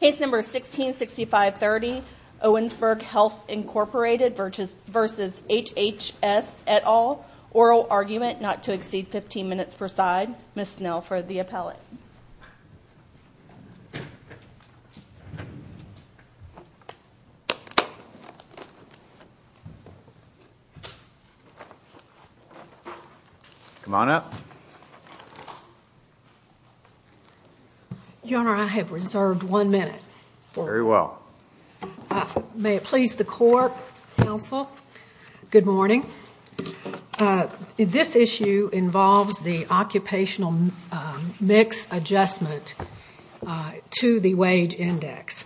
Case number 166530 Owensboro Health Inc v. HHS et al. Oral argument not to exceed 15 minutes per side. Ms. Snell for the appellate. Come on up. Your Honor, I have reserved one minute. Very well. May it please the court, counsel, good morning. This issue involves the occupational mix adjustment to the wage index.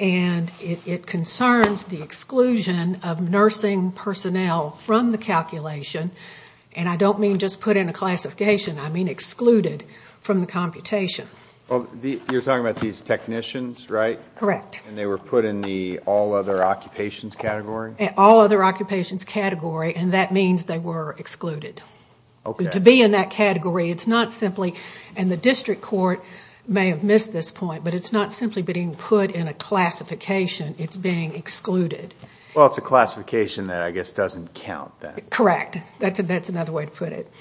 And it concerns the exclusion of nursing personnel from the calculation. And I don't mean just put in a classification. I mean excluded from the computation. You're talking about these technicians, right? Correct. And they were put in the all other occupations category? All other occupations category, and that means they were excluded. Okay. To be in that category, it's not simply, and the district court may have missed this point, but it's not simply being put in a classification. It's being excluded. Well, it's a classification that I guess doesn't count then. Correct. That's another way to put it.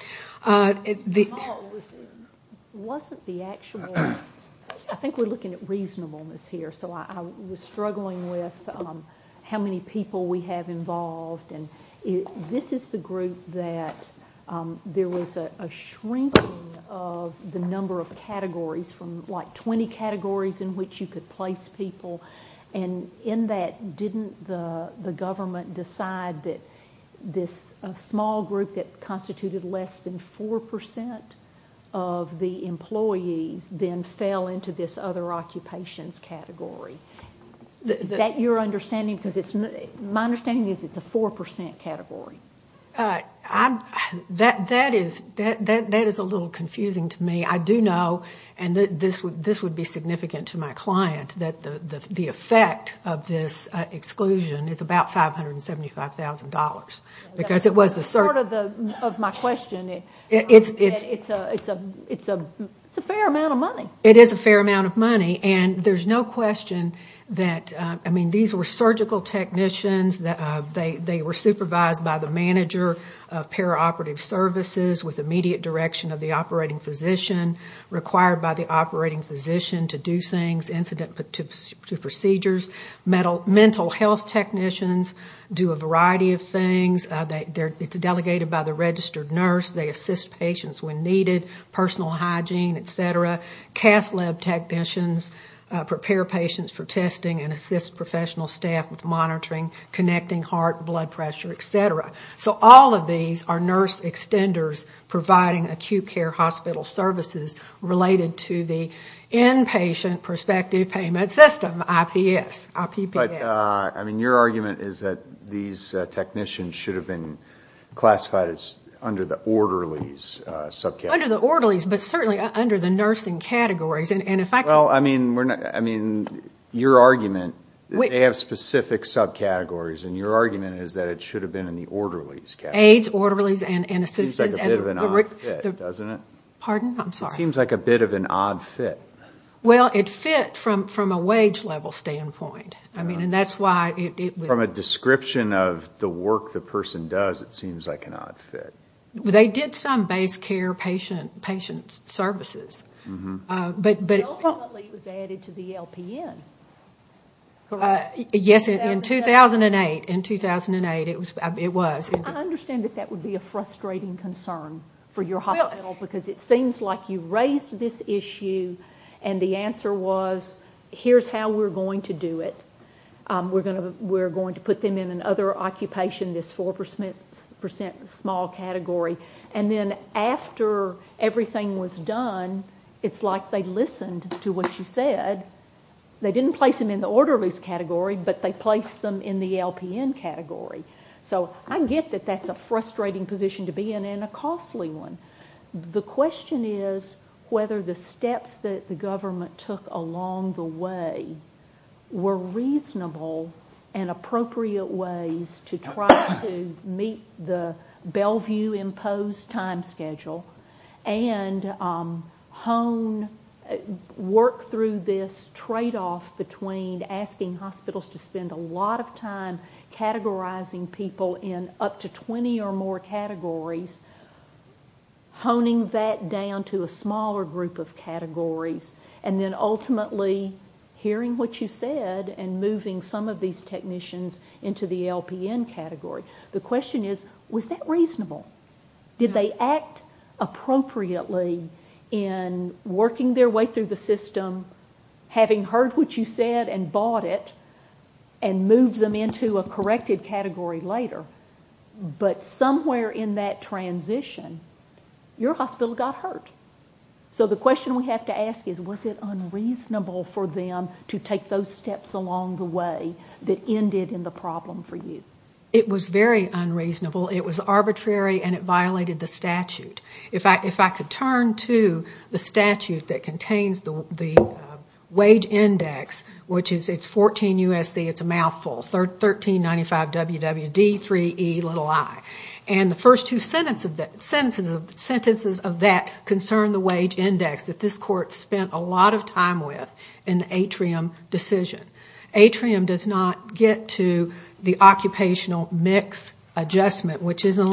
It wasn't the actual, I think we're looking at reasonableness here. So I was struggling with how many people we have involved. And this is the group that there was a shrinking of the number of categories from like 20 categories in which you could place people. And in that, didn't the government decide that this small group that constituted less than 4% of the employees then fell into this other occupations category? Is that your understanding? Because my understanding is it's a 4% category. That is a little confusing to me. I do know, and this would be significant to my client, that the effect of this exclusion is about $575,000. Because it was the surgical. That's part of my question. It's a fair amount of money. It is a fair amount of money. And there's no question that, I mean, these were surgical technicians. They were supervised by the manager of paraoperative services with immediate direction of the operating physician, required by the operating physician to do things, incident procedures. Mental health technicians do a variety of things. It's delegated by the registered nurse. They assist patients when needed, personal hygiene, et cetera. Cath lab technicians prepare patients for testing and assist professional staff with monitoring, connecting heart, blood pressure, et cetera. So all of these are nurse extenders providing acute care hospital services related to the inpatient prospective payment system, IPS, IPPS. But, I mean, your argument is that these technicians should have been classified as under the orderlies subcategory. Not under the orderlies, but certainly under the nursing categories. Well, I mean, your argument, they have specific subcategories, and your argument is that it should have been in the orderlies category. Aides, orderlies, and assistants. It seems like a bit of an odd fit, doesn't it? Pardon? I'm sorry. It seems like a bit of an odd fit. Well, it fit from a wage level standpoint. I mean, and that's why it was. From a description of the work the person does, it seems like an odd fit. They did some base care patient services. But ultimately it was added to the LPN, correct? Yes, in 2008. In 2008 it was. I understand that that would be a frustrating concern for your hospital, because it seems like you raised this issue, and the answer was, here's how we're going to do it. We're going to put them in another occupation, this 4% small category. And then after everything was done, it's like they listened to what you said. They didn't place them in the orderlies category, but they placed them in the LPN category. So I get that that's a frustrating position to be in and a costly one. The question is whether the steps that the government took along the way were reasonable and appropriate ways to try to meet the Bellevue-imposed time schedule and work through this tradeoff between asking hospitals to spend a lot of time categorizing people in up to 20 or more categories, honing that down to a smaller group of categories, and then ultimately hearing what you said and moving some of these technicians into the LPN category. The question is, was that reasonable? Did they act appropriately in working their way through the system, having heard what you said and bought it and moved them into a corrected category later? But somewhere in that transition, your hospital got hurt. So the question we have to ask is, was it unreasonable for them to take those steps along the way that ended in the problem for you? It was very unreasonable. It was arbitrary, and it violated the statute. If I could turn to the statute that contains the wage index, which is 14 U.S.C., it's a mouthful, 1395 W.W.D.3Ei, and the first two sentences of that concern the wage index that this court spent a lot of time with in the atrium decision. Atrium does not get to the occupational mix adjustment, which is in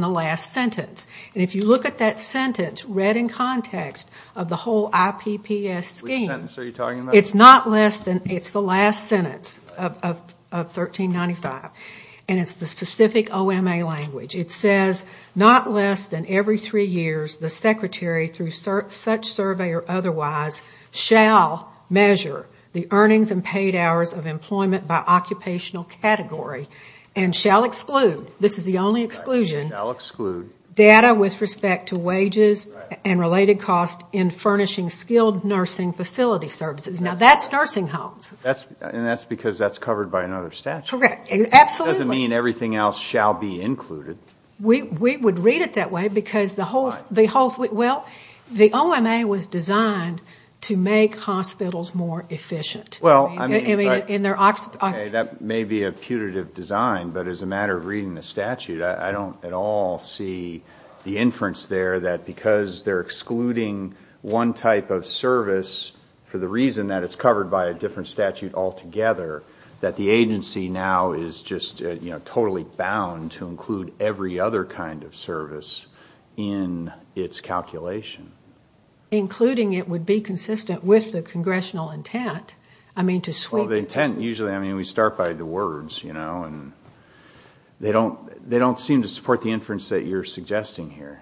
the last sentence. If you look at that sentence read in context of the whole IPPS scheme, it's not less than, it's the last sentence of 1395, and it's the specific OMA language. It says, not less than every three years, the secretary, through such survey or otherwise, shall measure the earnings and paid hours of employment by occupational category and shall exclude, this is the only exclusion, data with respect to wages and related costs in furnishing skilled nursing facility services. Now, that's nursing homes. And that's because that's covered by another statute. Correct. Absolutely. It doesn't mean everything else shall be included. We would read it that way because the whole, well, the OMA was designed to make hospitals more efficient. Well, I mean, that may be a putative design, but as a matter of reading the statute, I don't at all see the inference there that because they're excluding one type of service for the reason that it's covered by a different statute altogether, that the agency now is just totally bound to include every other kind of service in its calculation. Including it would be consistent with the congressional intent, I mean, to sweep. Well, the intent, usually, I mean, we start by the words, you know, and they don't seem to support the inference that you're suggesting here.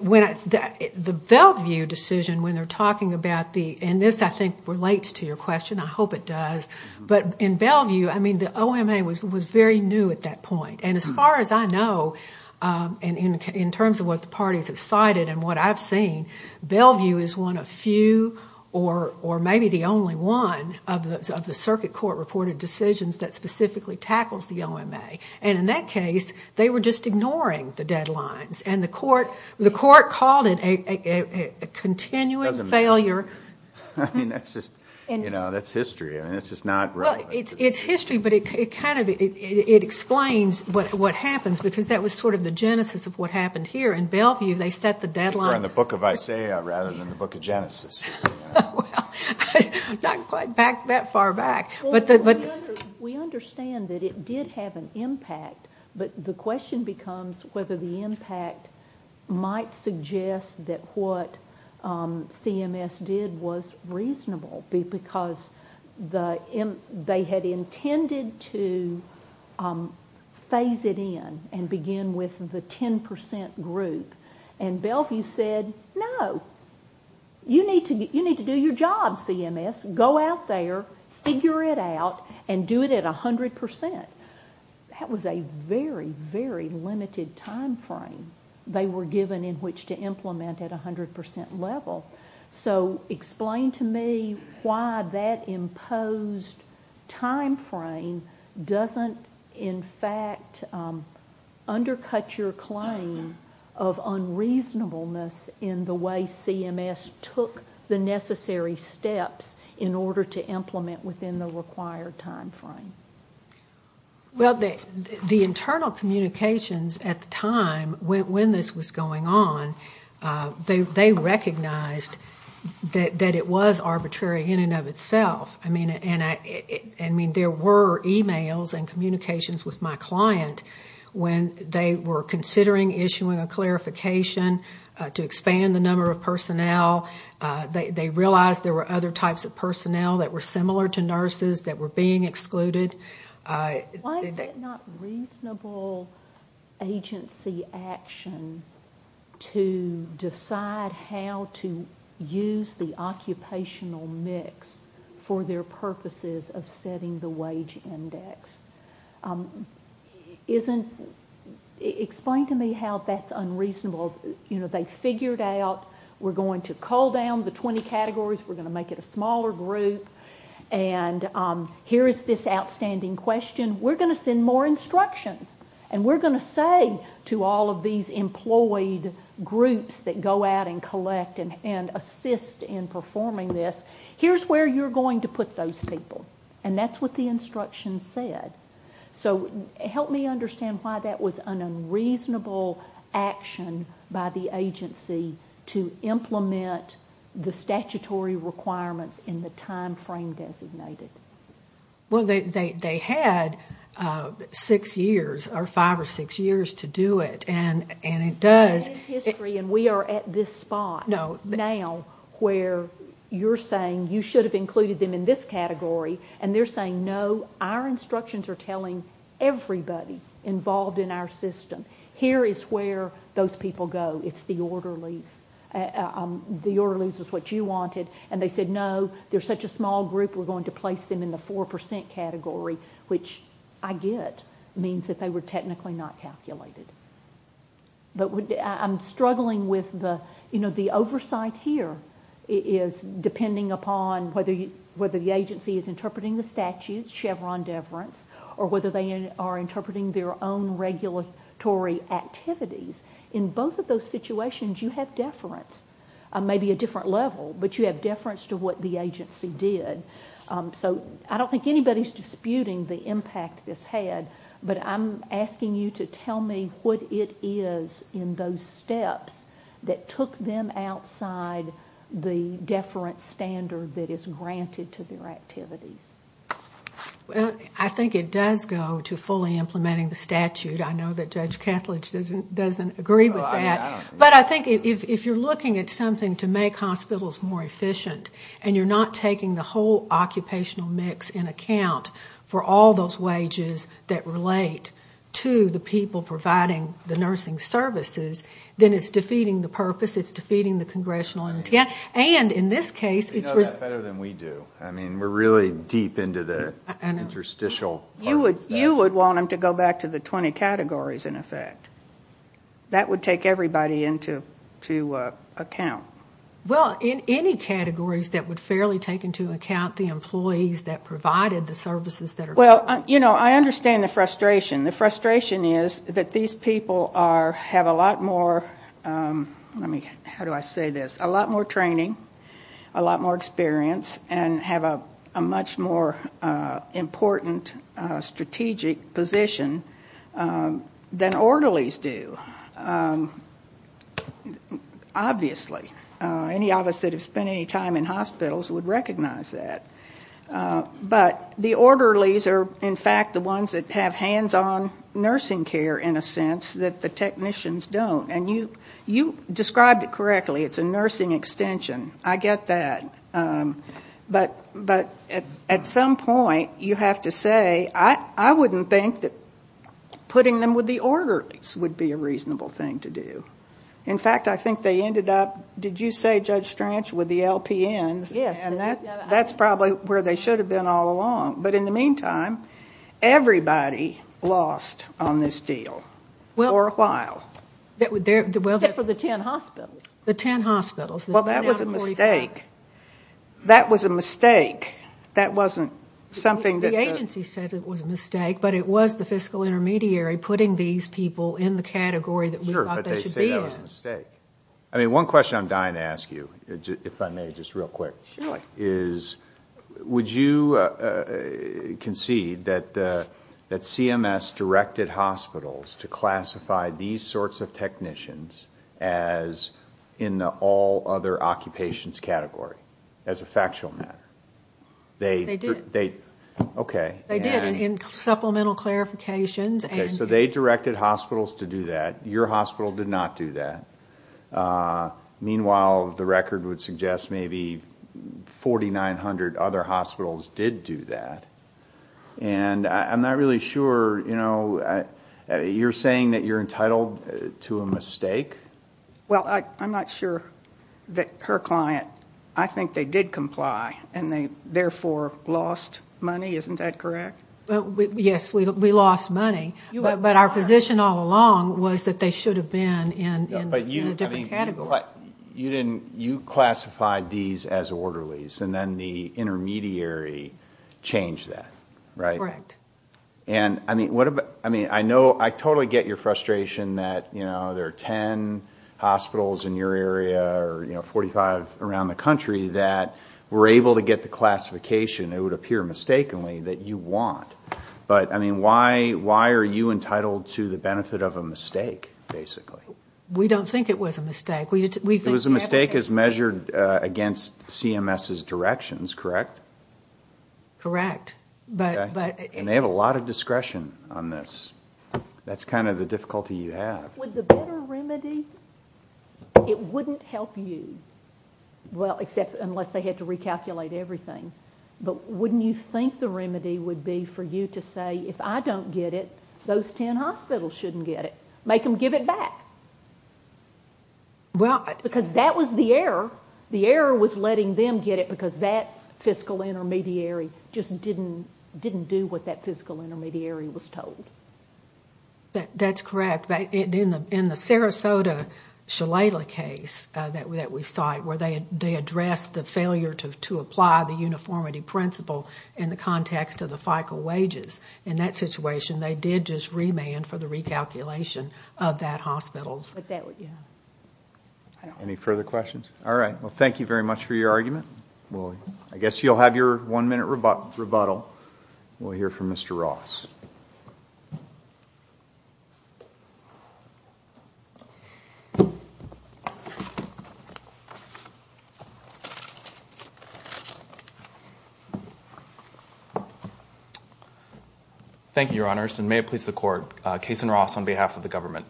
The Bellevue decision, when they're talking about the, and this, I think, relates to your question. I hope it does. But in Bellevue, I mean, the OMA was very new at that point. And as far as I know, and in terms of what the parties have cited and what I've seen, Bellevue is one of few or maybe the only one of the circuit court reported decisions that specifically tackles the OMA. And in that case, they were just ignoring the deadlines. And the court called it a continuing failure. I mean, that's just, you know, that's history. I mean, it's just not relevant. It's history, but it kind of explains what happens, because that was sort of the genesis of what happened here. In Bellevue, they set the deadline. They were on the book of Isaiah rather than the book of Genesis. Well, not quite that far back. We understand that it did have an impact, but the question becomes whether the impact might suggest that what CMS did was reasonable, because they had intended to phase it in and begin with the 10 percent group. And Bellevue said, no, you need to do your job, CMS. Go out there, figure it out, and do it at 100 percent. That was a very, very limited time frame they were given in which to implement at 100 percent level. So explain to me why that imposed time frame doesn't, in fact, undercut your claim of unreasonableness in the way CMS took the necessary steps in order to implement within the required time frame. Well, the internal communications at the time when this was going on, they recognized that it was arbitrary in and of itself. I mean, there were e-mails and communications with my client when they were considering issuing a clarification to expand the number of personnel. They realized there were other types of personnel that were similar to nurses that were being excluded. Why is it not reasonable agency action to decide how to use the occupational mix for their purposes of setting the wage index? Explain to me how that's unreasonable. They figured out we're going to cull down the 20 categories, we're going to make it a smaller group, and here is this outstanding question. We're going to send more instructions, and we're going to say to all of these employed groups that go out and collect and assist in performing this, here's where you're going to put those people, and that's what the instructions said. So help me understand why that was an unreasonable action by the agency to implement the statutory requirements in the time frame designated. Well, they had six years or five or six years to do it, and it does. It is history, and we are at this spot now where you're saying you should have included them in this category, and they're saying, no, our instructions are telling everybody involved in our system, here is where those people go, it's the orderlies, the orderlies is what you wanted, and they said, no, they're such a small group, we're going to place them in the 4% category, which I get means that they were technically not calculated. But I'm struggling with the oversight here is depending upon whether the agency is interpreting the statutes, Chevron deference, or whether they are interpreting their own regulatory activities, in both of those situations you have deference, maybe a different level, but you have deference to what the agency did. So I don't think anybody's disputing the impact this had, but I'm asking you to tell me what it is in those steps that took them outside the deference standard that is granted to their activities. Well, I think it does go to fully implementing the statute. I know that Judge Catledge doesn't agree with that. But I think if you're looking at something to make hospitals more efficient, and you're not taking the whole occupational mix in account for all those wages that relate to the people providing the nursing services, then it's defeating the purpose, it's defeating the congressional intent. You know that better than we do. I mean, we're really deep into the interstitial purpose. You would want them to go back to the 20 categories, in effect. That would take everybody into account. Well, in any categories that would fairly take into account the employees that provided the services that are provided. Well, you know, I understand the frustration. The frustration is that these people have a lot more, how do I say this, a lot more training, a lot more experience, and have a much more important strategic position than orderlies do, obviously. Any of us that have spent any time in hospitals would recognize that. But the orderlies are, in fact, the ones that have hands-on nursing care, in a sense, that the technicians don't. And you described it correctly. It's a nursing extension. I get that. But at some point, you have to say, I wouldn't think that putting them with the orderlies would be a reasonable thing to do. In fact, I think they ended up, did you say, Judge Stranch, with the LPNs? Yes. And that's probably where they should have been all along. But in the meantime, everybody lost on this deal for a while. Except for the 10 hospitals. The 10 hospitals. Well, that was a mistake. That was a mistake. That wasn't something that the agency said was a mistake, but it was the fiscal intermediary putting these people in the category that we thought they should be in. Sure, but they say that was a mistake. One question I'm dying to ask you, if I may, just real quick, is would you concede that CMS directed hospitals to classify these sorts of technicians as in the all other occupations category, as a factual matter? They did. Okay. They did, in supplemental clarifications. So they directed hospitals to do that. Your hospital did not do that. Meanwhile, the record would suggest maybe 4,900 other hospitals did do that. And I'm not really sure, you know, you're saying that you're entitled to a mistake? Well, I'm not sure that her client, I think they did comply, and they therefore lost money. Isn't that correct? Yes, we lost money. But our position all along was that they should have been in a different category. But you classified these as orderlies, and then the intermediary changed that, right? Correct. And, I mean, I know I totally get your frustration that, you know, there are 10 hospitals in your area or, you know, 45 around the country that were able to get the classification, it would appear mistakenly, that you want. But, I mean, why are you entitled to the benefit of a mistake, basically? We don't think it was a mistake. It was a mistake as measured against CMS's directions, correct? Correct. And they have a lot of discretion on this. That's kind of the difficulty you have. Would the better remedy, it wouldn't help you, well, except unless they had to recalculate everything. But wouldn't you think the remedy would be for you to say, if I don't get it, those 10 hospitals shouldn't get it. Make them give it back. Because that was the error. The error was letting them get it because that fiscal intermediary just didn't do what that fiscal intermediary was told. That's correct. In the Sarasota Shalala case that we cite, where they addressed the failure to apply the uniformity principle in the context of the FICO wages, in that situation they did just remand for the recalculation of that hospital's. Any further questions? All right. Well, thank you very much for your argument. I guess you'll have your one-minute rebuttal. We'll hear from Mr. Ross. Thank you, Your Honors, and may it please the Court. Cason Ross on behalf of the government.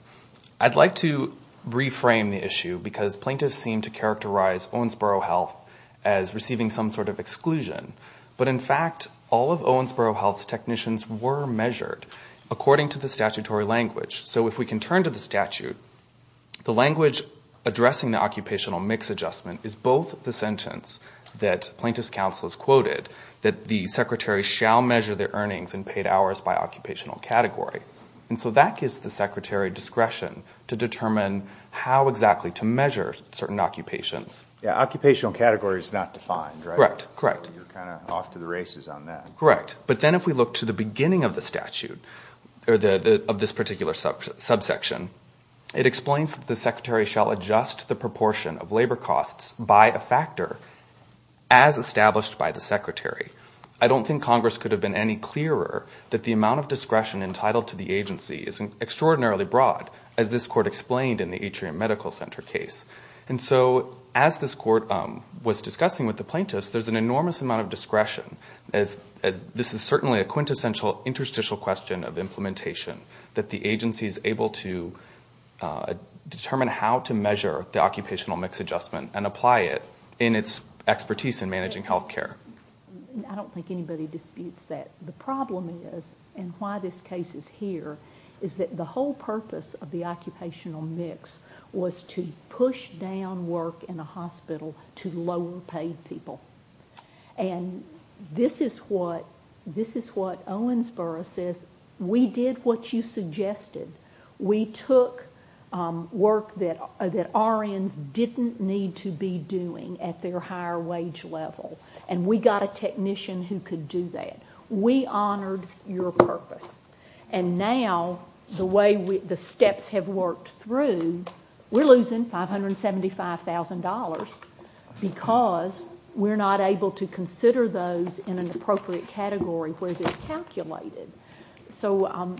I'd like to reframe the issue because plaintiffs seem to characterize Owensboro Health as receiving some sort of exclusion. But, in fact, all of Owensboro Health's technicians were measured according to the statutory language. So if we can turn to the statute, the language addressing the occupational mix adjustment is both the sentence that plaintiff's counsel has quoted, that the secretary shall measure their earnings and paid hours by occupational category. And so that gives the secretary discretion to determine how exactly to measure certain occupations. Yeah, occupational category is not defined, right? Correct, correct. You're kind of off to the races on that. Correct. But then if we look to the beginning of the statute, of this particular subsection, it explains that the secretary shall adjust the proportion of labor costs by a factor as established by the secretary. I don't think Congress could have been any clearer that the amount of discretion entitled to the agency is extraordinarily broad, as this Court explained in the Atrium Medical Center case. And so as this Court was discussing with the plaintiffs, there's an enormous amount of discretion. This is certainly a quintessential interstitial question of implementation, that the agency is able to determine how to measure the occupational mix adjustment and apply it in its expertise in managing health care. I don't think anybody disputes that. The problem is, and why this case is here, is that the whole purpose of the occupational mix was to push down work in a hospital to lower-paid people. And this is what Owensboro says, we did what you suggested. We took work that RNs didn't need to be doing at their higher wage level, and we got a technician who could do that. We honored your purpose. And now, the way the steps have worked through, we're losing $575,000 because we're not able to consider those in an appropriate category where they're calculated. So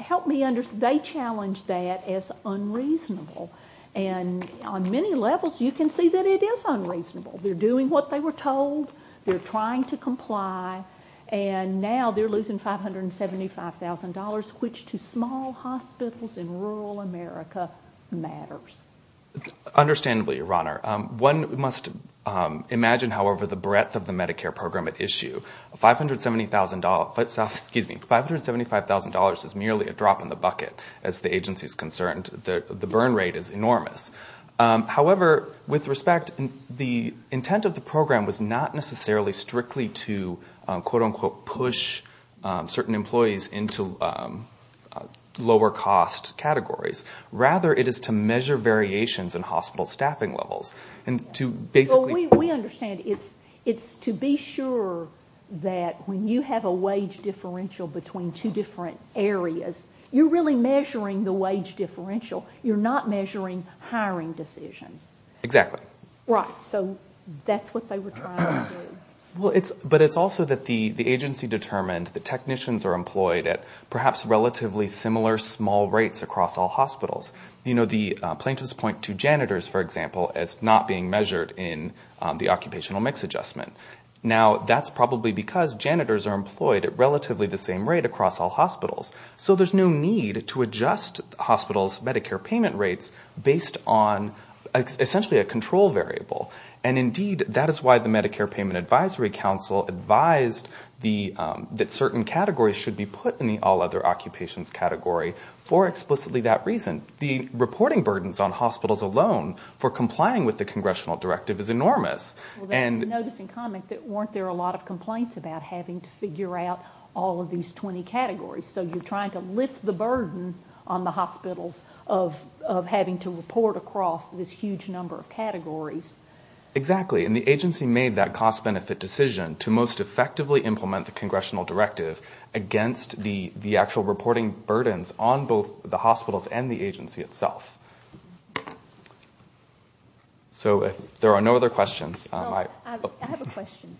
help me understand. They challenge that as unreasonable. And on many levels, you can see that it is unreasonable. They're doing what they were told. They're trying to comply. And now they're losing $575,000, which to small hospitals in rural America matters. Understandably, Your Honor. One must imagine, however, the breadth of the Medicare program at issue. $575,000 is merely a drop in the bucket, as the agency is concerned. The burn rate is enormous. However, with respect, the intent of the program was not necessarily strictly to quote-unquote push certain employees into lower-cost categories. Rather, it is to measure variations in hospital staffing levels and to basically We understand. It's to be sure that when you have a wage differential between two different areas, you're really measuring the wage differential. You're not measuring hiring decisions. Exactly. Right. So that's what they were trying to do. But it's also that the agency determined that technicians are employed at perhaps relatively similar small rates across all hospitals. The plaintiffs point to janitors, for example, as not being measured in the occupational mix adjustment. Now, that's probably because janitors are employed at relatively the same rate across all hospitals. So there's no need to adjust hospitals' Medicare payment rates based on essentially a control variable. And indeed, that is why the Medicare Payment Advisory Council advised that certain categories should be put in the all-other occupations category for explicitly that reason. The reporting burdens on hospitals alone for complying with the congressional directive is enormous. Well, that's a noticing comment that weren't there a lot of complaints about having to figure out all of these 20 categories. So you're trying to lift the burden on the hospitals of having to report across this huge number of categories. Exactly. And the agency made that cost-benefit decision to most effectively implement the congressional directive against the actual reporting burdens on both the hospitals and the agency itself. So if there are no other questions. I have a question.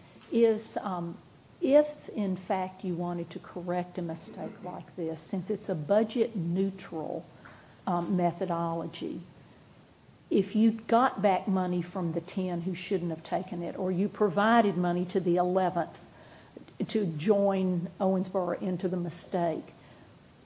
If, in fact, you wanted to correct a mistake like this, since it's a budget neutral methodology, if you got back money from the 10 who shouldn't have taken it or you provided money to the 11th to join Owensboro into the mistake,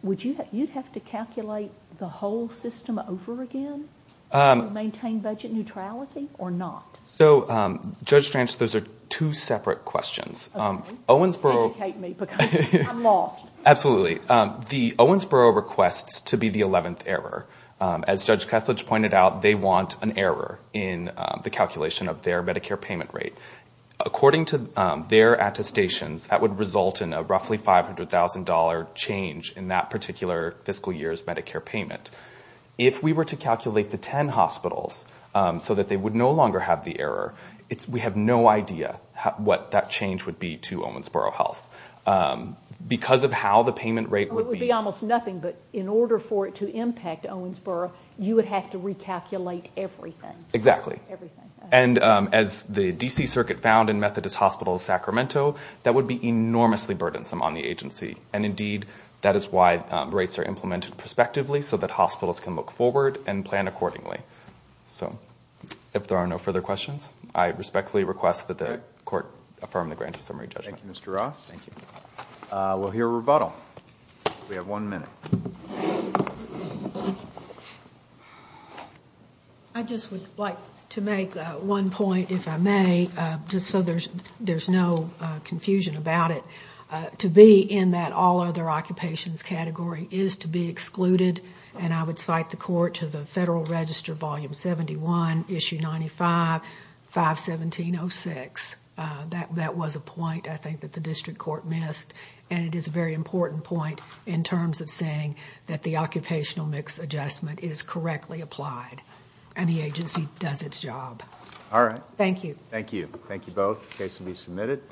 would you have to calculate the whole system over again to maintain budget neutrality or not? So, Judge Stranch, those are two separate questions. Okay. Educate me because I'm lost. Absolutely. The Owensboro requests to be the 11th error. As Judge Kethledge pointed out, they want an error in the calculation of their Medicare payment rate. According to their attestations, that would result in a roughly $500,000 change in that particular fiscal year's Medicare payment. If we were to calculate the 10 hospitals so that they would no longer have the error, we have no idea what that change would be to Owensboro Health. Because of how the payment rate would be. It would be almost nothing. But in order for it to impact Owensboro, you would have to recalculate everything. Exactly. Everything. And as the D.C. Circuit found in Methodist Hospitals Sacramento, that would be enormously burdensome on the agency. And, indeed, that is why rates are implemented prospectively so that hospitals can look forward and plan accordingly. So, if there are no further questions, I respectfully request that the court affirm the grant of summary judgment. Thank you, Mr. Ross. Thank you. We'll hear a rebuttal. We have one minute. I just would like to make one point, if I may, just so there's no confusion about it, to be in that all other occupations category is to be excluded. And I would cite the court to the Federal Register, Volume 71, Issue 95, 517.06. That was a point, I think, that the district court missed. And it is a very important point in terms of saying that the occupational mix adjustment is correctly applied. And the agency does its job. All right. Thank you. Thank you. Thank you both. The case will be submitted.